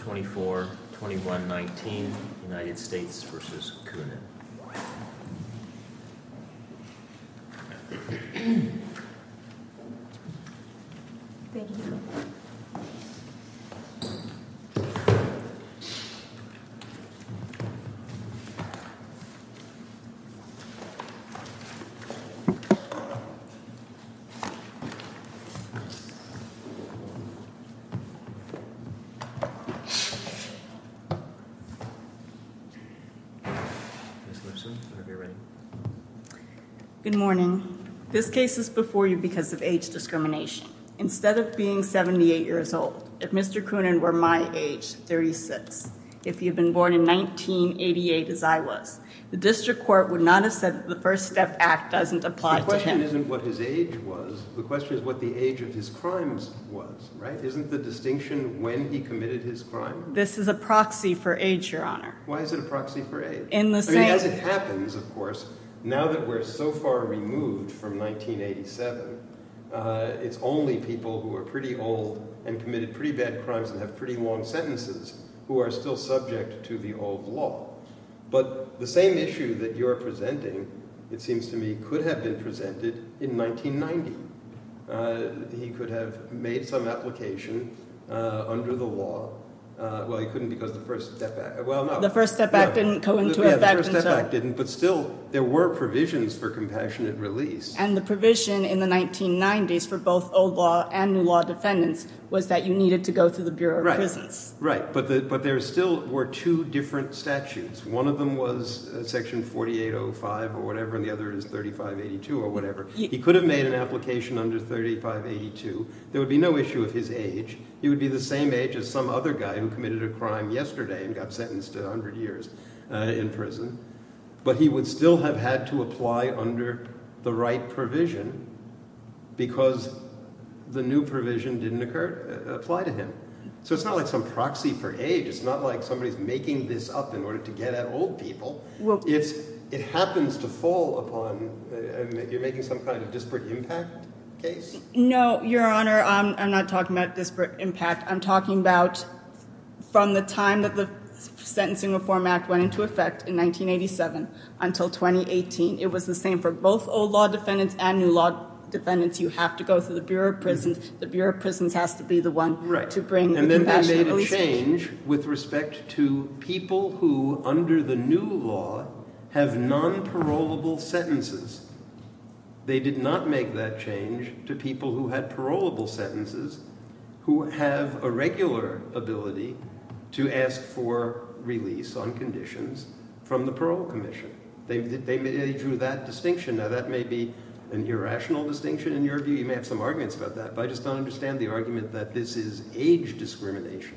24-21-19 United States v. Coonan Good morning. This case is before you because of age discrimination. Instead of being 78 years old, if Mr. Coonan were my age, 36, if he had been born in 1988 as I was, the district court would not have said that the First Step Act doesn't apply to him. The question isn't what his age was. The question is what the age of his crimes was, right? Isn't the distinction when he committed his crime? This is a proxy for age, Your Honor. Why is it a proxy for age? In the same... As it happens, of course, now that we're so far removed from 1987, it's only people who are pretty old and committed pretty bad crimes and have pretty long sentences who are still subject to the old law. But the same issue that you're presenting, it seems to me, could have been presented in 1990. He could have made some application under the law. Well, he couldn't because the First Step Act... The First Step Act didn't go into effect until... Yeah, the First Step Act didn't, but still, there were provisions for compassionate release. And the provision in the 1990s for both old law and new law defendants was that you needed to go through the Bureau of Prisons. Right, but there still were two different statutes. One of them was Section 4805 or whatever, and the other is 3582 or whatever. He could have made an application under 3582. There would be no issue of his age. He would be the same age as some other guy who committed a crime yesterday and got sentenced to 100 years in prison, but he would still have had to apply under the right provision because the new provision didn't apply to him. So it's not like some proxy for age. It's not like somebody's making this up in order to get at old people. It happens to fall upon... You're making some kind of disparate impact case? No, Your Honor. I'm not talking about disparate impact. I'm talking about from the time that the Sentencing Reform Act went into effect in 1987 until 2018. It was the same for both old law defendants and new law defendants. You have to go through the Bureau of Prisons. The Bureau of Prisons has to be the one to bring the compassionate release... And then they made a change with respect to people who, under the new law, have non-parolable sentences. They did not make that change to people who had parolable sentences who have a regular ability to ask for release on conditions from the parole commission. They drew that distinction. Now, that may be an irrational distinction in your view. You may have some that this is age discrimination.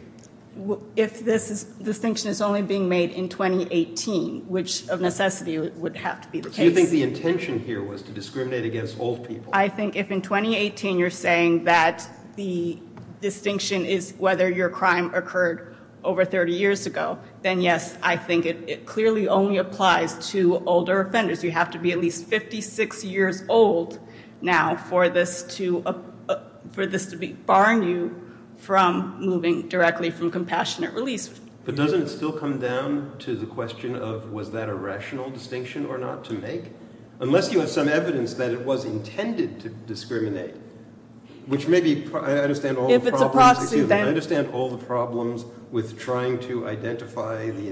If this distinction is only being made in 2018, which of necessity would have to be the case... Do you think the intention here was to discriminate against old people? I think if in 2018 you're saying that the distinction is whether your crime occurred over 30 years ago, then yes, I think it clearly only applies to older offenders. You have to be at least 56 years old now for this to be far new from moving directly from compassionate release. But doesn't it still come down to the question of was that a rational distinction or not to make? Unless you have some evidence that it was intended to discriminate, which may be... I understand all the problems with trying to identify the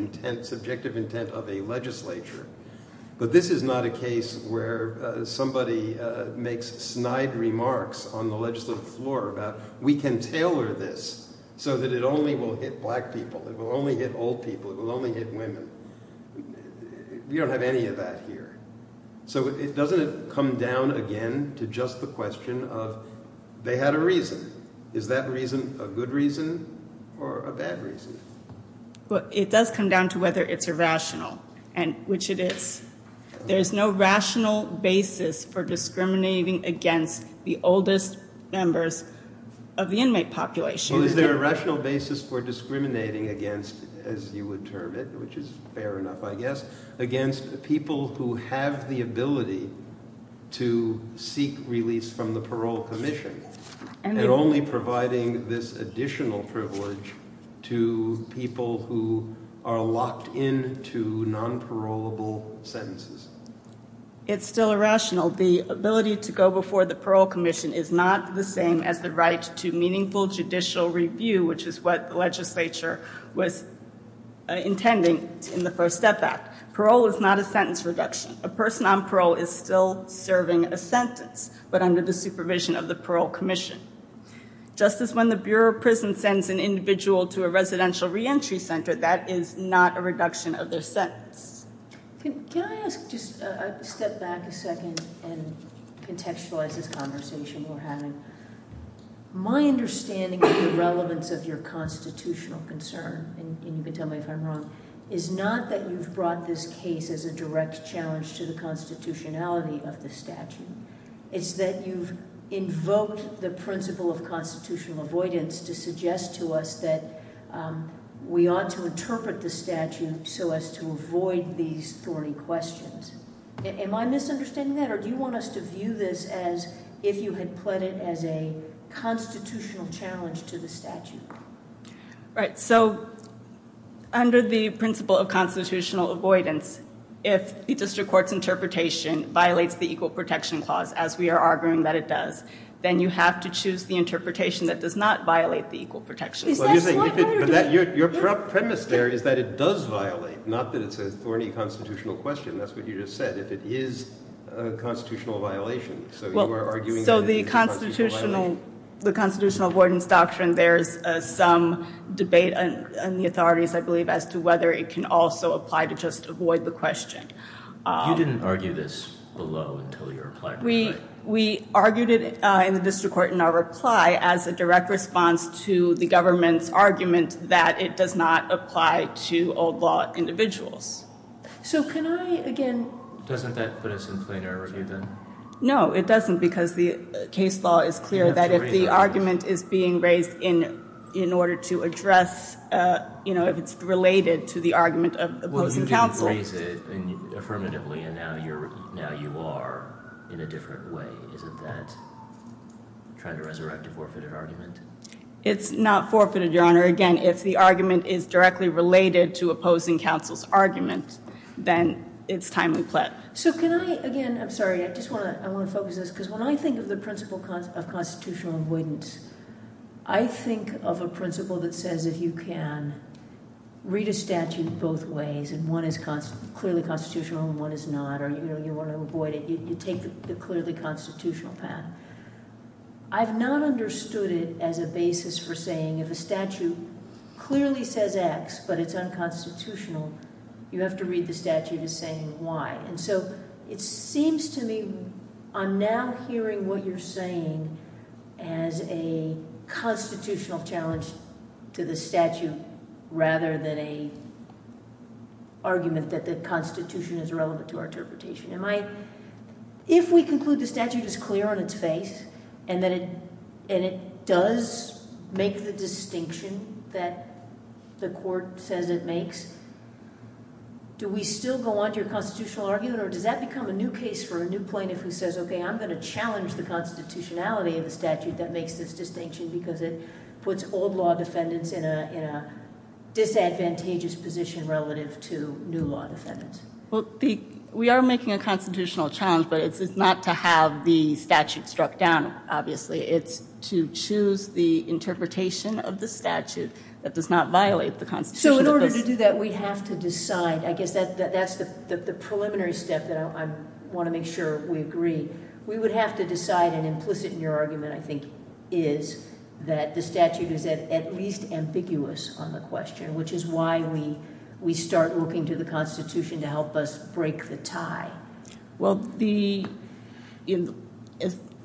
is not a case where somebody makes snide remarks on the legislative floor about we can tailor this so that it only will hit black people. It will only hit old people. It will only hit women. We don't have any of that here. So doesn't it come down again to just the question of they had a reason. Is that reason a good reason or a bad reason? It does come down to whether it's irrational, which it is. There's no rational basis for discriminating against the oldest members of the inmate population. Is there a rational basis for discriminating against, as you would term it, which is fair enough I guess, against people who have the ability to seek release from the parole commission and only providing this additional privilege to people who are locked into non-parolable sentences? It's still irrational. The ability to go before the parole commission is not the same as the right to meaningful judicial review, which is what the legislature was intending in the First Step Act. Parole is not a sentence reduction. A person on parole is still serving a sentence, but under the supervision of the parole commission. Just as when the Bureau of Prison sends an individual to a residential reentry center, that is not a reduction of their sentence. Can I ask, just step back a second and contextualize this conversation we're having. My understanding of the relevance of your constitutional concern, and you can tell me if I'm wrong, is not that you've brought this case as a direct challenge to the constitutionality of the statute. It's that you've invoked the principle of constitutional avoidance to suggest to us that we ought to interpret the statute so as to avoid these thorny questions. Am I misunderstanding that, or do you want us to view this as if you had pled it as a constitutional challenge to the Right, so under the principle of constitutional avoidance, if the district court's interpretation violates the Equal Protection Clause, as we are arguing that it does, then you have to choose the interpretation that does not violate the Equal Protection Clause. Your premise there is that it does violate, not that it's a thorny constitutional question, that's what you just said, if it is a constitutional violation. So the constitutional avoidance doctrine, there's some debate in the authorities, I believe, as to whether it can also apply to just avoid the question. You didn't argue this below until your reply. We argued it in the district court in our reply as a direct response to the government's argument that it does not apply to old law individuals. So can I, again... Doesn't that put us in plain error, do you think? No, it doesn't, because the case law is clear that if the argument is being raised in order to address, you know, if it's related to the argument of opposing counsel... Well, you didn't raise it affirmatively, and now you are in a different way. Isn't that trying to resurrect a forfeited argument? It's not forfeited, Your Honor. Again, if the argument is directly related to opposing counsel's argument, then it's timely pled. So can I, again, I'm sorry, I just want to focus this, because when I think of the principle of constitutional avoidance, I think of a principle that says if you can read a statute both ways, and one is clearly constitutional and one is not, or you want to avoid it, you take the clearly constitutional path. I've not understood it as a basis for saying if a statute clearly says X but it's unconstitutional, you have to read the statute as saying Y. And so it seems to me I'm now hearing what you're saying as a constitutional challenge to the statute rather than an argument that the constitution is relevant to our interpretation. If we conclude the statute is clear on its face and it does make the distinction that the court says it makes, do we still go on to your constitutional argument, or does that become a new case for a new plaintiff who says, okay, I'm going to challenge the constitutionality of the statute that makes this distinction because it puts old law defendants in a disadvantageous position relative to new law defendants? Well, we are making a constitutional challenge, but it's not to have the statute struck down, obviously. It's to choose the interpretation of the statute that does not violate the constitution. So in order to do that, we have to decide. I guess that's the preliminary step that I want to make sure we agree. We would have to decide, and implicit in your argument, I think, is that the statute is at least ambiguous on the question, which is why we start looking to the Constitution to help us break the tie. Well,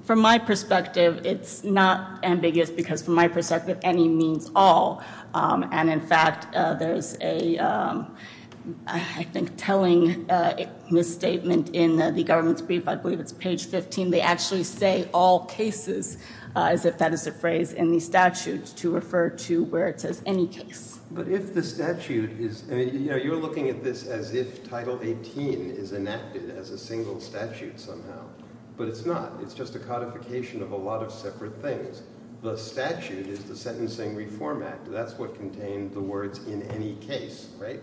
from my perspective, it's not ambiguous because from my perspective, any means all. And, in fact, there's a, I think, telling misstatement in the government's brief. I believe it's page 15. They actually say all cases as if that is a phrase in the statute to refer to where it says any case. But if the statute is, you know, you're looking at this as if Title 18 is enacted as a single statute somehow, but it's not. It's just a codification of a lot of separate things. The statute is the Sentencing Reform Act. That's what contained the words in any case, right?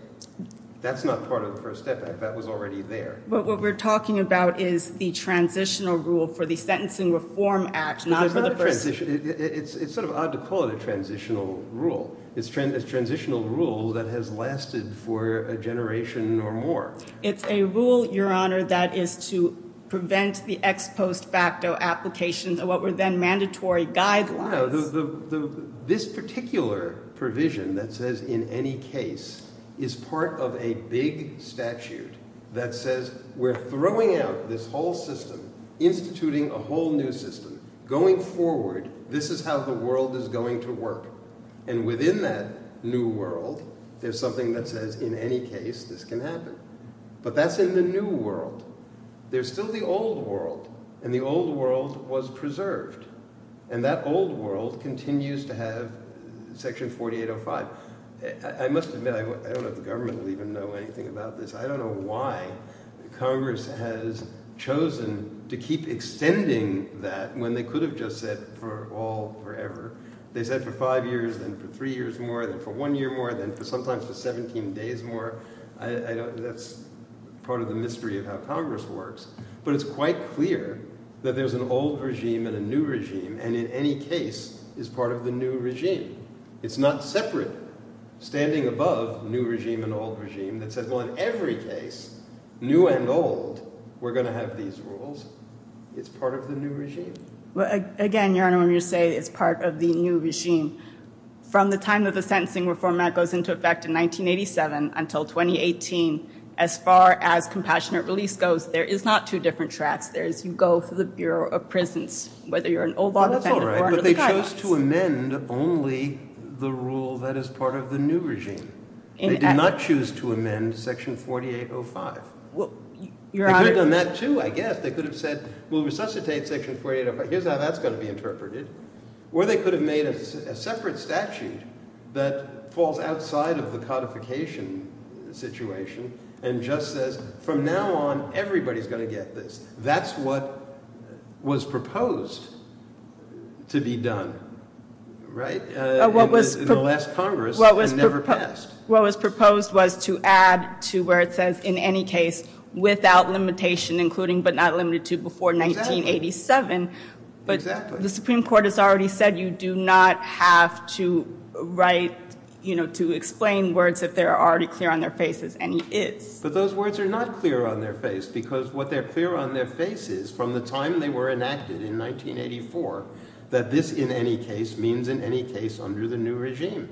That's not part of the First Step Act. That was already there. But what we're talking about is the transitional rule for the Sentencing Reform Act, not for the First Step Act. It's sort of odd to call it a transitional rule. It's a transitional rule that has lasted for a generation or more. It's a rule, Your Honor, that is to prevent the ex post facto applications of what were then mandatory guidelines. No. This particular provision that says in any case is part of a big statute that says we're throwing out this whole system, instituting a whole new system. Going forward, this is how the world is going to work. And within that new world, there's something that says in any case this can happen. But that's in the new world. There's still the old world, and the old world was preserved. And that old world continues to have Section 4805. I must admit I don't know if the government will even know anything about this. I don't know why Congress has chosen to keep extending that when they could have just said for all forever. They said for five years, then for three years more, then for one year more, then sometimes for 17 days more. That's part of the mystery of how Congress works. But it's quite clear that there's an old regime and a new regime, and in any case is part of the new regime. It's not separate, standing above new regime and old regime that says, well, in every case, new and old, we're going to have these rules. It's part of the new regime. Again, Your Honor, when you say it's part of the new regime, from the time that the sentencing reform act goes into effect in 1987 until 2018, as far as compassionate release goes, there is not two different tracks. You go through the Bureau of Prisons, whether you're an old law defendant or under the guidelines. But they chose to amend only the rule that is part of the new regime. They did not choose to amend Section 4805. They could have done that, too, I guess. They could have said, we'll resuscitate Section 4805. Here's how that's going to be interpreted. Or they could have made a separate statute that falls outside of the codification situation and just says, from now on, everybody's going to get this. That's what was proposed to be done, right, in the last Congress and never passed. What was proposed was to add to where it says, in any case, without limitation, including but not limited to before 1987. But the Supreme Court has already said you do not have to write, you know, to explain words if they're already clear on their face as any is. But those words are not clear on their face because what they're clear on their face is, from the time they were enacted in 1984, that this in any case means in any case under the new regime.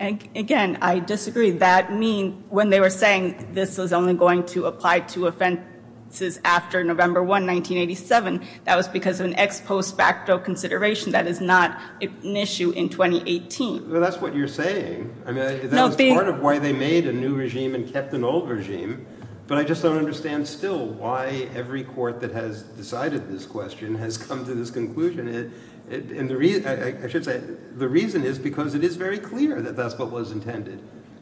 Again, I disagree. That means when they were saying this was only going to apply to offenses after November 1, 1987, that was because of an ex post facto consideration. That is not an issue in 2018. Well, that's what you're saying. I mean, that was part of why they made a new regime and kept an old regime. But I just don't understand still why every court that has decided this question has come to this conclusion. I should say the reason is because it is very clear that that's what was intended.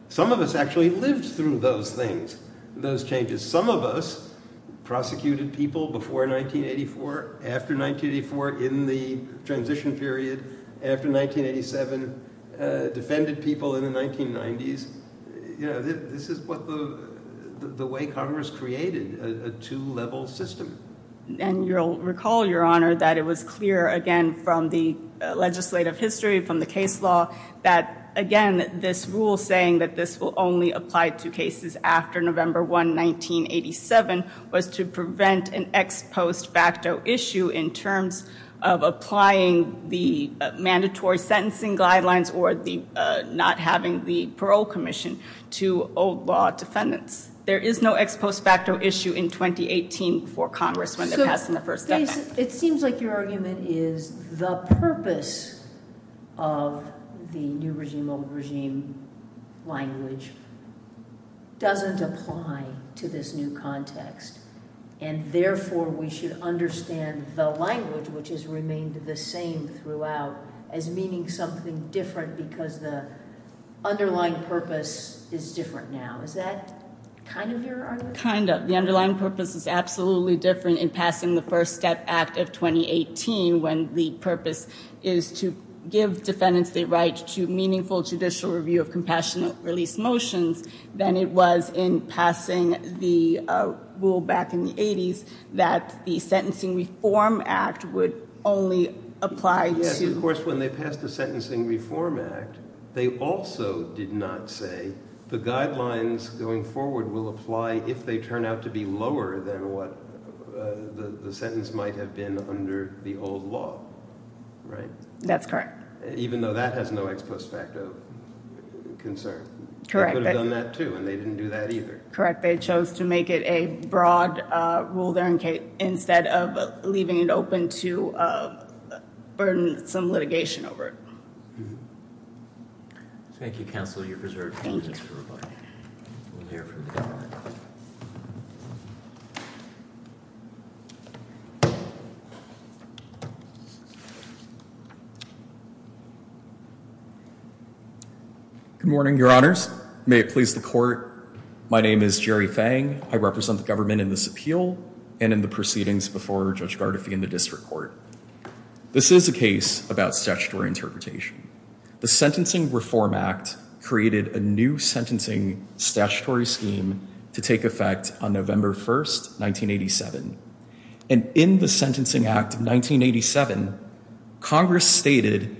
Some of us actually lived through those things, those changes. Some of us prosecuted people before 1984, after 1984, in the transition period, after 1987, defended people in the 1990s. You know, this is what the way Congress created a two-level system. And you'll recall, Your Honor, that it was clear, again, from the legislative history, from the case law, that, again, this rule saying that this will only apply to cases after November 1, 1987, was to prevent an ex post facto issue in terms of applying the mandatory sentencing guidelines or not having the parole commission to old law defendants. There is no ex post facto issue in 2018 for Congress when they're passing the first amendment. It seems like your argument is the purpose of the new regime, old regime language doesn't apply to this new context. And therefore, we should understand the language, which has remained the same throughout, as meaning something different because the underlying purpose is different now. Is that kind of your argument? Kind of. The underlying purpose is absolutely different in passing the First Step Act of 2018, when the purpose is to give defendants the right to meaningful judicial review of compassionate release motions than it was in passing the rule back in the 80s that the Sentencing Reform Act would only apply to... Of course, when they passed the Sentencing Reform Act, they also did not say the guidelines going forward will apply if they turn out to be lower than what the sentence might have been under the old law, right? That's correct. Even though that has no ex post facto concern. Correct. They could have done that too, and they didn't do that either. Correct. They chose to make it a broad rule there instead of leaving it open to burden some litigation over it. Thank you, Counselor. You're preserved. Thank you. Good morning, Your Honors. May it please the Court. My name is Jerry Fang. I represent the government in this appeal and in the proceedings before Judge Gardefee in the District Court. This is a case about statutory interpretation. The Sentencing Reform Act created a new sentencing statutory scheme to take effect on November 1st, 1987. And in the Sentencing Act of 1987, Congress stated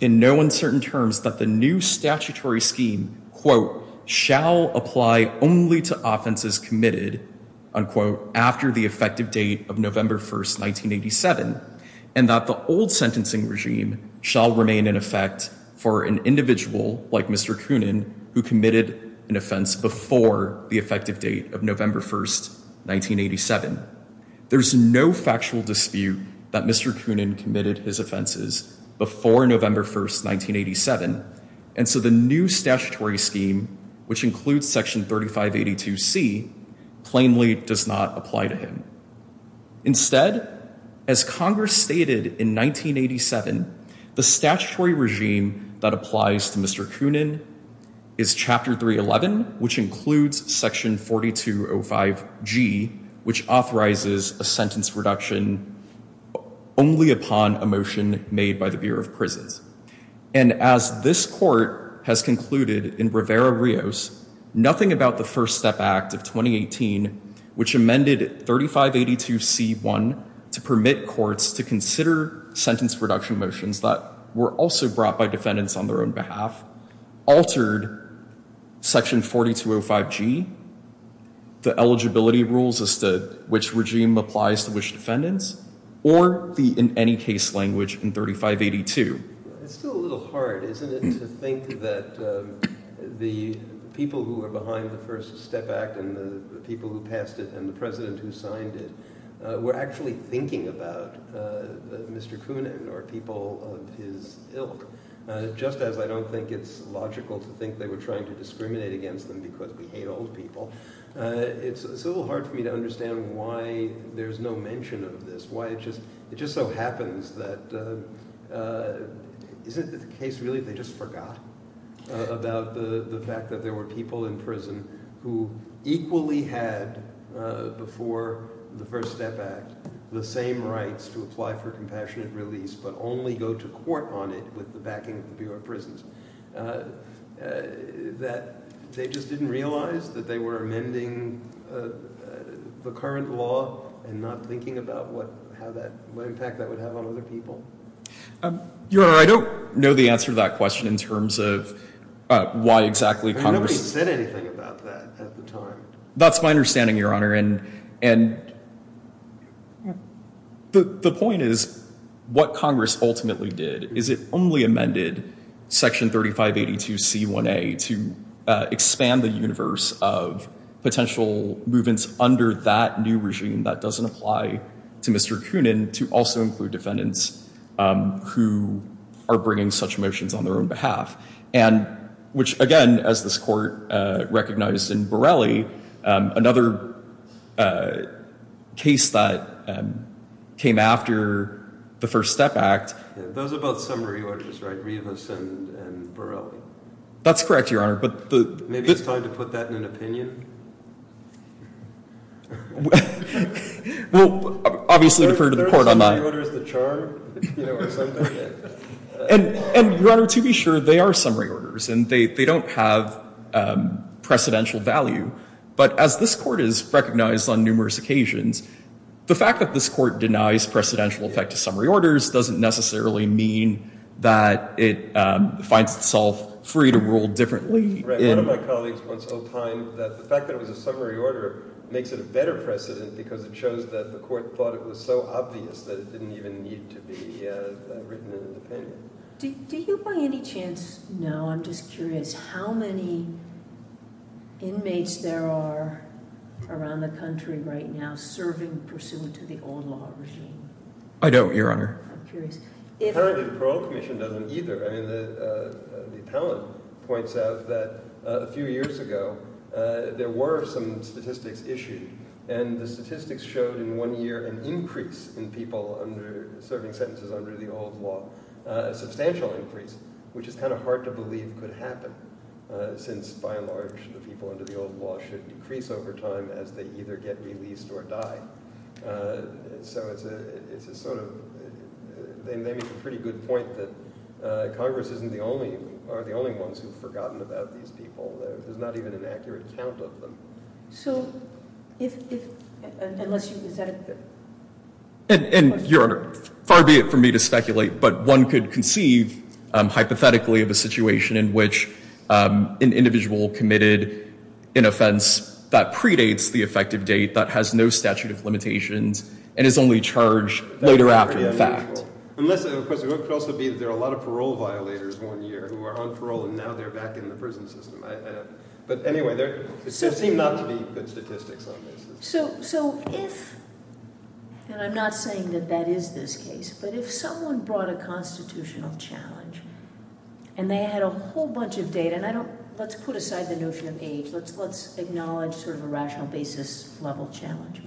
in no uncertain terms that the new statutory scheme, quote, shall apply only to offenses committed, unquote, after the effective date of November 1st, 1987, and that the old sentencing regime shall remain in effect for an individual like Mr. Coonan who committed an offense before the effective date of November 1st, 1987. There's no factual dispute that Mr. Coonan committed his offenses before November 1st, 1987, and so the new statutory scheme, which includes Section 3582C, plainly does not apply to him. Instead, as Congress stated in 1987, the statutory regime that applies to Mr. Coonan is Chapter 311, which includes Section 4205G, which authorizes a sentence reduction only upon a motion made by the Bureau of Prisons. And as this Court has concluded in Rivera-Rios, nothing about the First Step Act of 2018, which amended 3582C1 to permit courts to consider sentence reduction motions that were also brought by defendants on their own behalf, altered Section 4205G, the eligibility rules as to which regime applies to which defendants, or the in any case language in 3582. It's still a little hard, isn't it, to think that the people who were behind the First Step Act and the people who passed it and the president who signed it were actually thinking about Mr. Coonan or people of his ilk, just as I don't think it's logical to think they were trying to discriminate against them because we hate old people. It's a little hard for me to understand why there's no mention of this, why it just so happens that, is it the case really they just forgot about the fact that there were people in prison who equally had before the First Step Act the same rights to apply for compassionate release but only go to court on it with the backing of the Bureau of Prisons? That they just didn't realize that they were amending the current law and not thinking about what impact that would have on other people? Your Honor, I don't know the answer to that question in terms of why exactly Congress Nobody said anything about that at the time. That's my understanding, Your Honor, and the point is what Congress ultimately did is it only amended Section 3582C1A to expand the universe of potential movements under that new regime that doesn't apply to Mr. Coonan to also include defendants who are bringing such motions on their own behalf. Which again, as this Court recognized in Borelli, another case that came after the First Step Act Those are both summary orders, right? Rivas and Borelli? That's correct, Your Honor. Maybe it's time to put that in an opinion? Well, obviously defer to the Court on that. Are summary orders the charm? Your Honor, to be sure, they are summary orders and they don't have precedential value. But as this Court has recognized on numerous occasions, the fact that this Court denies precedential effect to summary orders doesn't necessarily mean that it finds itself free to rule differently. One of my colleagues once opined that the fact that it was a summary order makes it a better precedent because it shows that the Court thought it was so obvious that it didn't even need to be written in an opinion. Do you by any chance know, I'm just curious, how many inmates there are around the country right now serving pursuant to the old law regime? I don't, Your Honor. I'm curious. Apparently the Parole Commission doesn't either. I mean the appellant points out that a few years ago there were some statistics issued and the statistics showed in one year an increase in people serving sentences under the old law, a substantial increase, which is kind of hard to believe could happen since by and large the people under the old law should decrease over time as they either get released or die. So it's a sort of, they make a pretty good point that Congress isn't the only, aren't the only ones who have forgotten about these people. There's not even an accurate count of them. So if, unless you, is that a question? And Your Honor, far be it from me to speculate, but one could conceive hypothetically of a situation in which an individual committed an offense that predates the effective date, that has no statute of limitations, and is only charged later after the fact. Unless, of course, it could also be that there are a lot of parole violators one year who are on parole and now they're back in the prison system. But anyway, there seem not to be good statistics on this. So if, and I'm not saying that that is this case, but if someone brought a constitutional challenge and they had a whole bunch of data, and I don't, let's put aside the notion of age. Let's acknowledge sort of a rational basis level challenge.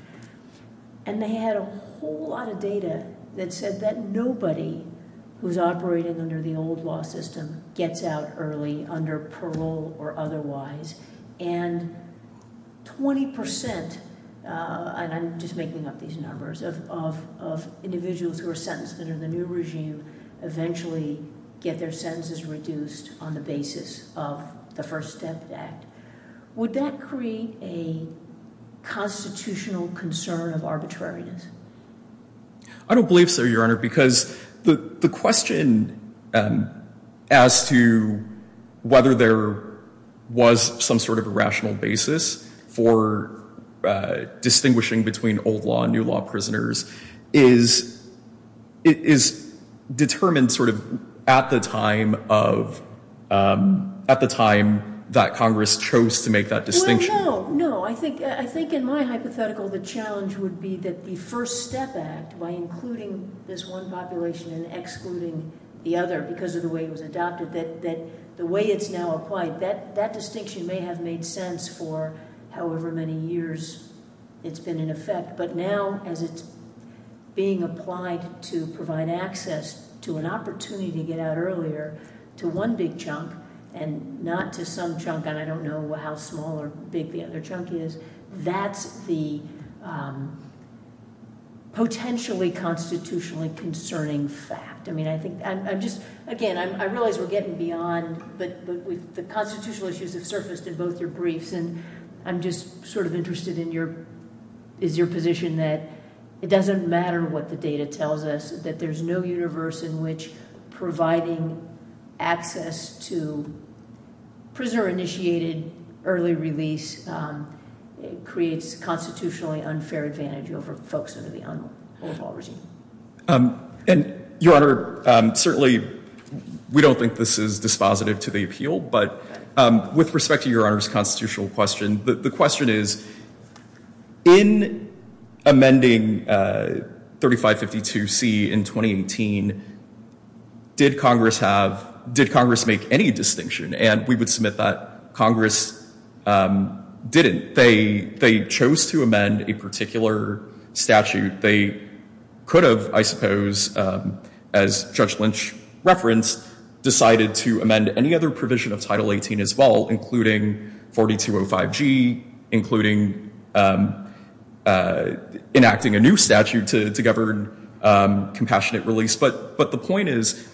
And they had a whole lot of data that said that nobody who's operating under the old law system gets out early under parole or otherwise. And 20 percent, and I'm just making up these numbers, of individuals who are sentenced under the new regime who eventually get their sentences reduced on the basis of the First Step Act. Would that create a constitutional concern of arbitrariness? I don't believe so, Your Honor, because the question as to whether there was some sort of a rational basis for distinguishing between old law and new law prisoners is determined sort of at the time of, at the time that Congress chose to make that distinction. Well, no, no. I think in my hypothetical the challenge would be that the First Step Act, by including this one population and excluding the other because of the way it was adopted, that the way it's now applied, that distinction may have made sense for however many years it's been in effect. But now as it's being applied to provide access to an opportunity to get out earlier to one big chunk and not to some chunk, and I don't know how small or big the other chunk is, that's the potentially constitutionally concerning fact. Again, I realize we're getting beyond, but the constitutional issues have surfaced in both your briefs, and I'm just sort of interested in your position that it doesn't matter what the data tells us, that there's no universe in which providing access to prisoner-initiated early release creates constitutionally unfair advantage over folks under the old law regime. And, Your Honor, certainly we don't think this is dispositive to the appeal, but with respect to Your Honor's constitutional question, the question is, in amending 3552C in 2018, did Congress have, did Congress make any distinction? And we would submit that Congress didn't. They chose to amend a particular statute. They could have, I suppose, as Judge Lynch referenced, decided to amend any other provision of Title 18 as well, including 4205G, including enacting a new statute to govern compassionate release. But the point is,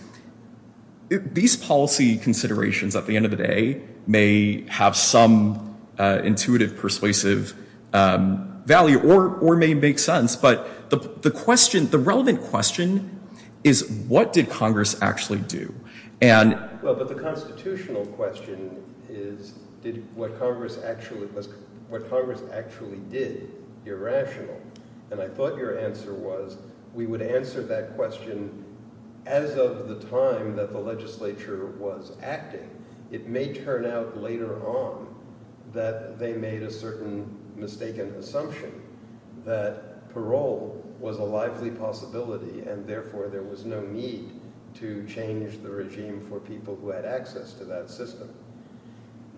these policy considerations, at the end of the day, may have some intuitive, persuasive value, or may make sense. But the relevant question is, what did Congress actually do? Well, but the constitutional question is, what Congress actually did. You're rational. And I thought your answer was, we would answer that question as of the time that the legislature was active. It may turn out later on that they made a certain mistaken assumption that parole was a lively possibility, and therefore there was no need to change the regime for people who had access to that system.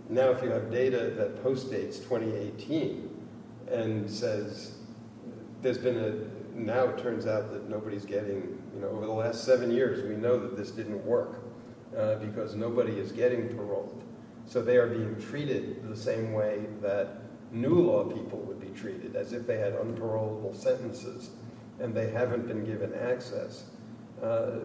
Now if you have data that postdates 2018 and says there's been a – now it turns out that nobody's getting – over the last seven years, we know that this didn't work because nobody is getting paroled. So they are being treated the same way that new law people would be treated, as if they had unparolable sentences and they haven't been given access. I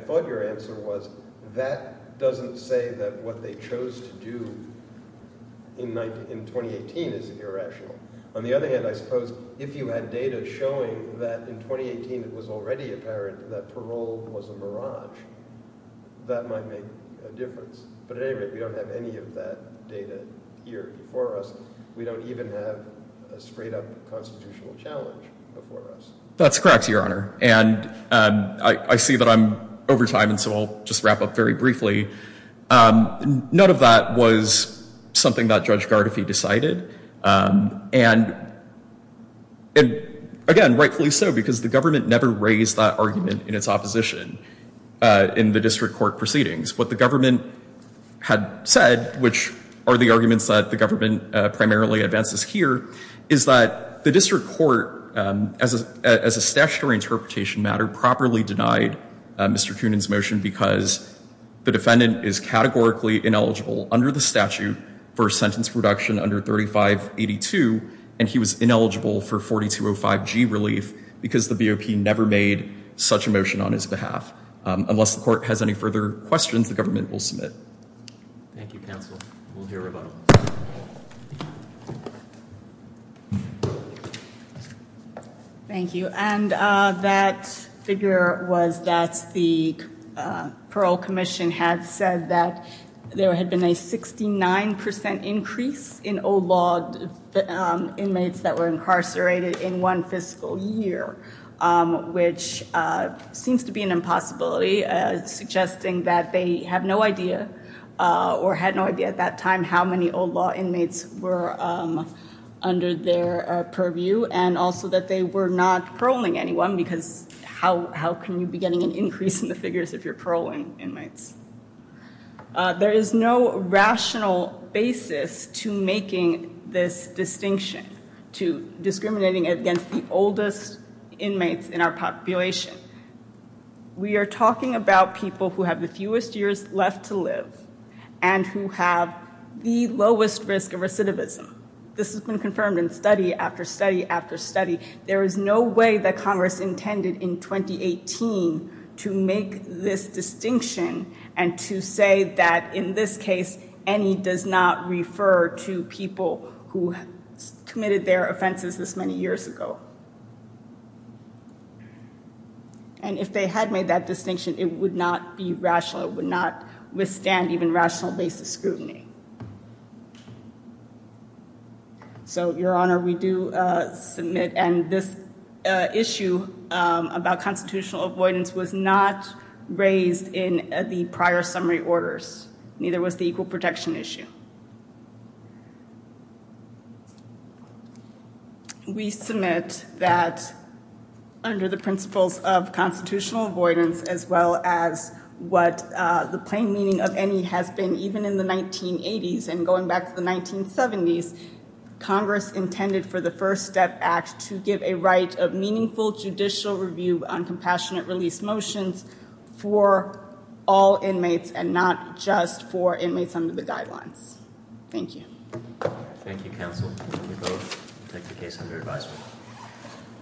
thought your answer was, that doesn't say that what they chose to do in 2018 is irrational. On the other hand, I suppose if you had data showing that in 2018 it was already apparent that parole was a mirage, that might make a difference. But at any rate, we don't have any of that data here before us. We don't even have a straight-up constitutional challenge before us. That's correct, Your Honor. And I see that I'm over time, and so I'll just wrap up very briefly. None of that was something that Judge Gardefee decided. And again, rightfully so, because the government never raised that argument in its opposition in the district court proceedings. What the government had said, which are the arguments that the government primarily advances here, is that the district court, as a statutory interpretation matter, properly denied Mr. Coonan's motion because the defendant is categorically ineligible under the statute for sentence reduction under 3582, and he was ineligible for 4205G relief because the BOP never made such a motion on his behalf. Unless the court has any further questions, the government will submit. Thank you, counsel. We'll hear about it. Thank you. And that figure was that the parole commission had said that there had been a 69% increase in old-law inmates that were incarcerated in one fiscal year, which seems to be an impossibility, suggesting that they have no idea or had no idea at that time how many old-law inmates were under their purview and also that they were not paroling anyone because how can you be getting an increase in the figures if you're paroling inmates? There is no rational basis to making this distinction, to discriminating against the oldest inmates in our population. We are talking about people who have the fewest years left to live and who have the lowest risk of recidivism. This has been confirmed in study after study after study. There is no way that Congress intended in 2018 to make this distinction and to say that in this case any does not refer to people who committed their offenses this many years ago. And if they had made that distinction, it would not be rational. It would not withstand even rational basis scrutiny. So, Your Honor, we do submit, and this issue about constitutional avoidance was not raised in the prior summary orders. Neither was the equal protection issue. We submit that under the principles of constitutional avoidance as well as what the plain meaning of any has been even in the 1980s and going back to the 1970s, Congress intended for the First Step Act to give a right of meaningful judicial review on compassionate release motions for all inmates and not just for inmates under the guidelines. Thank you. Thank you, counsel. You may both take the case under advisement.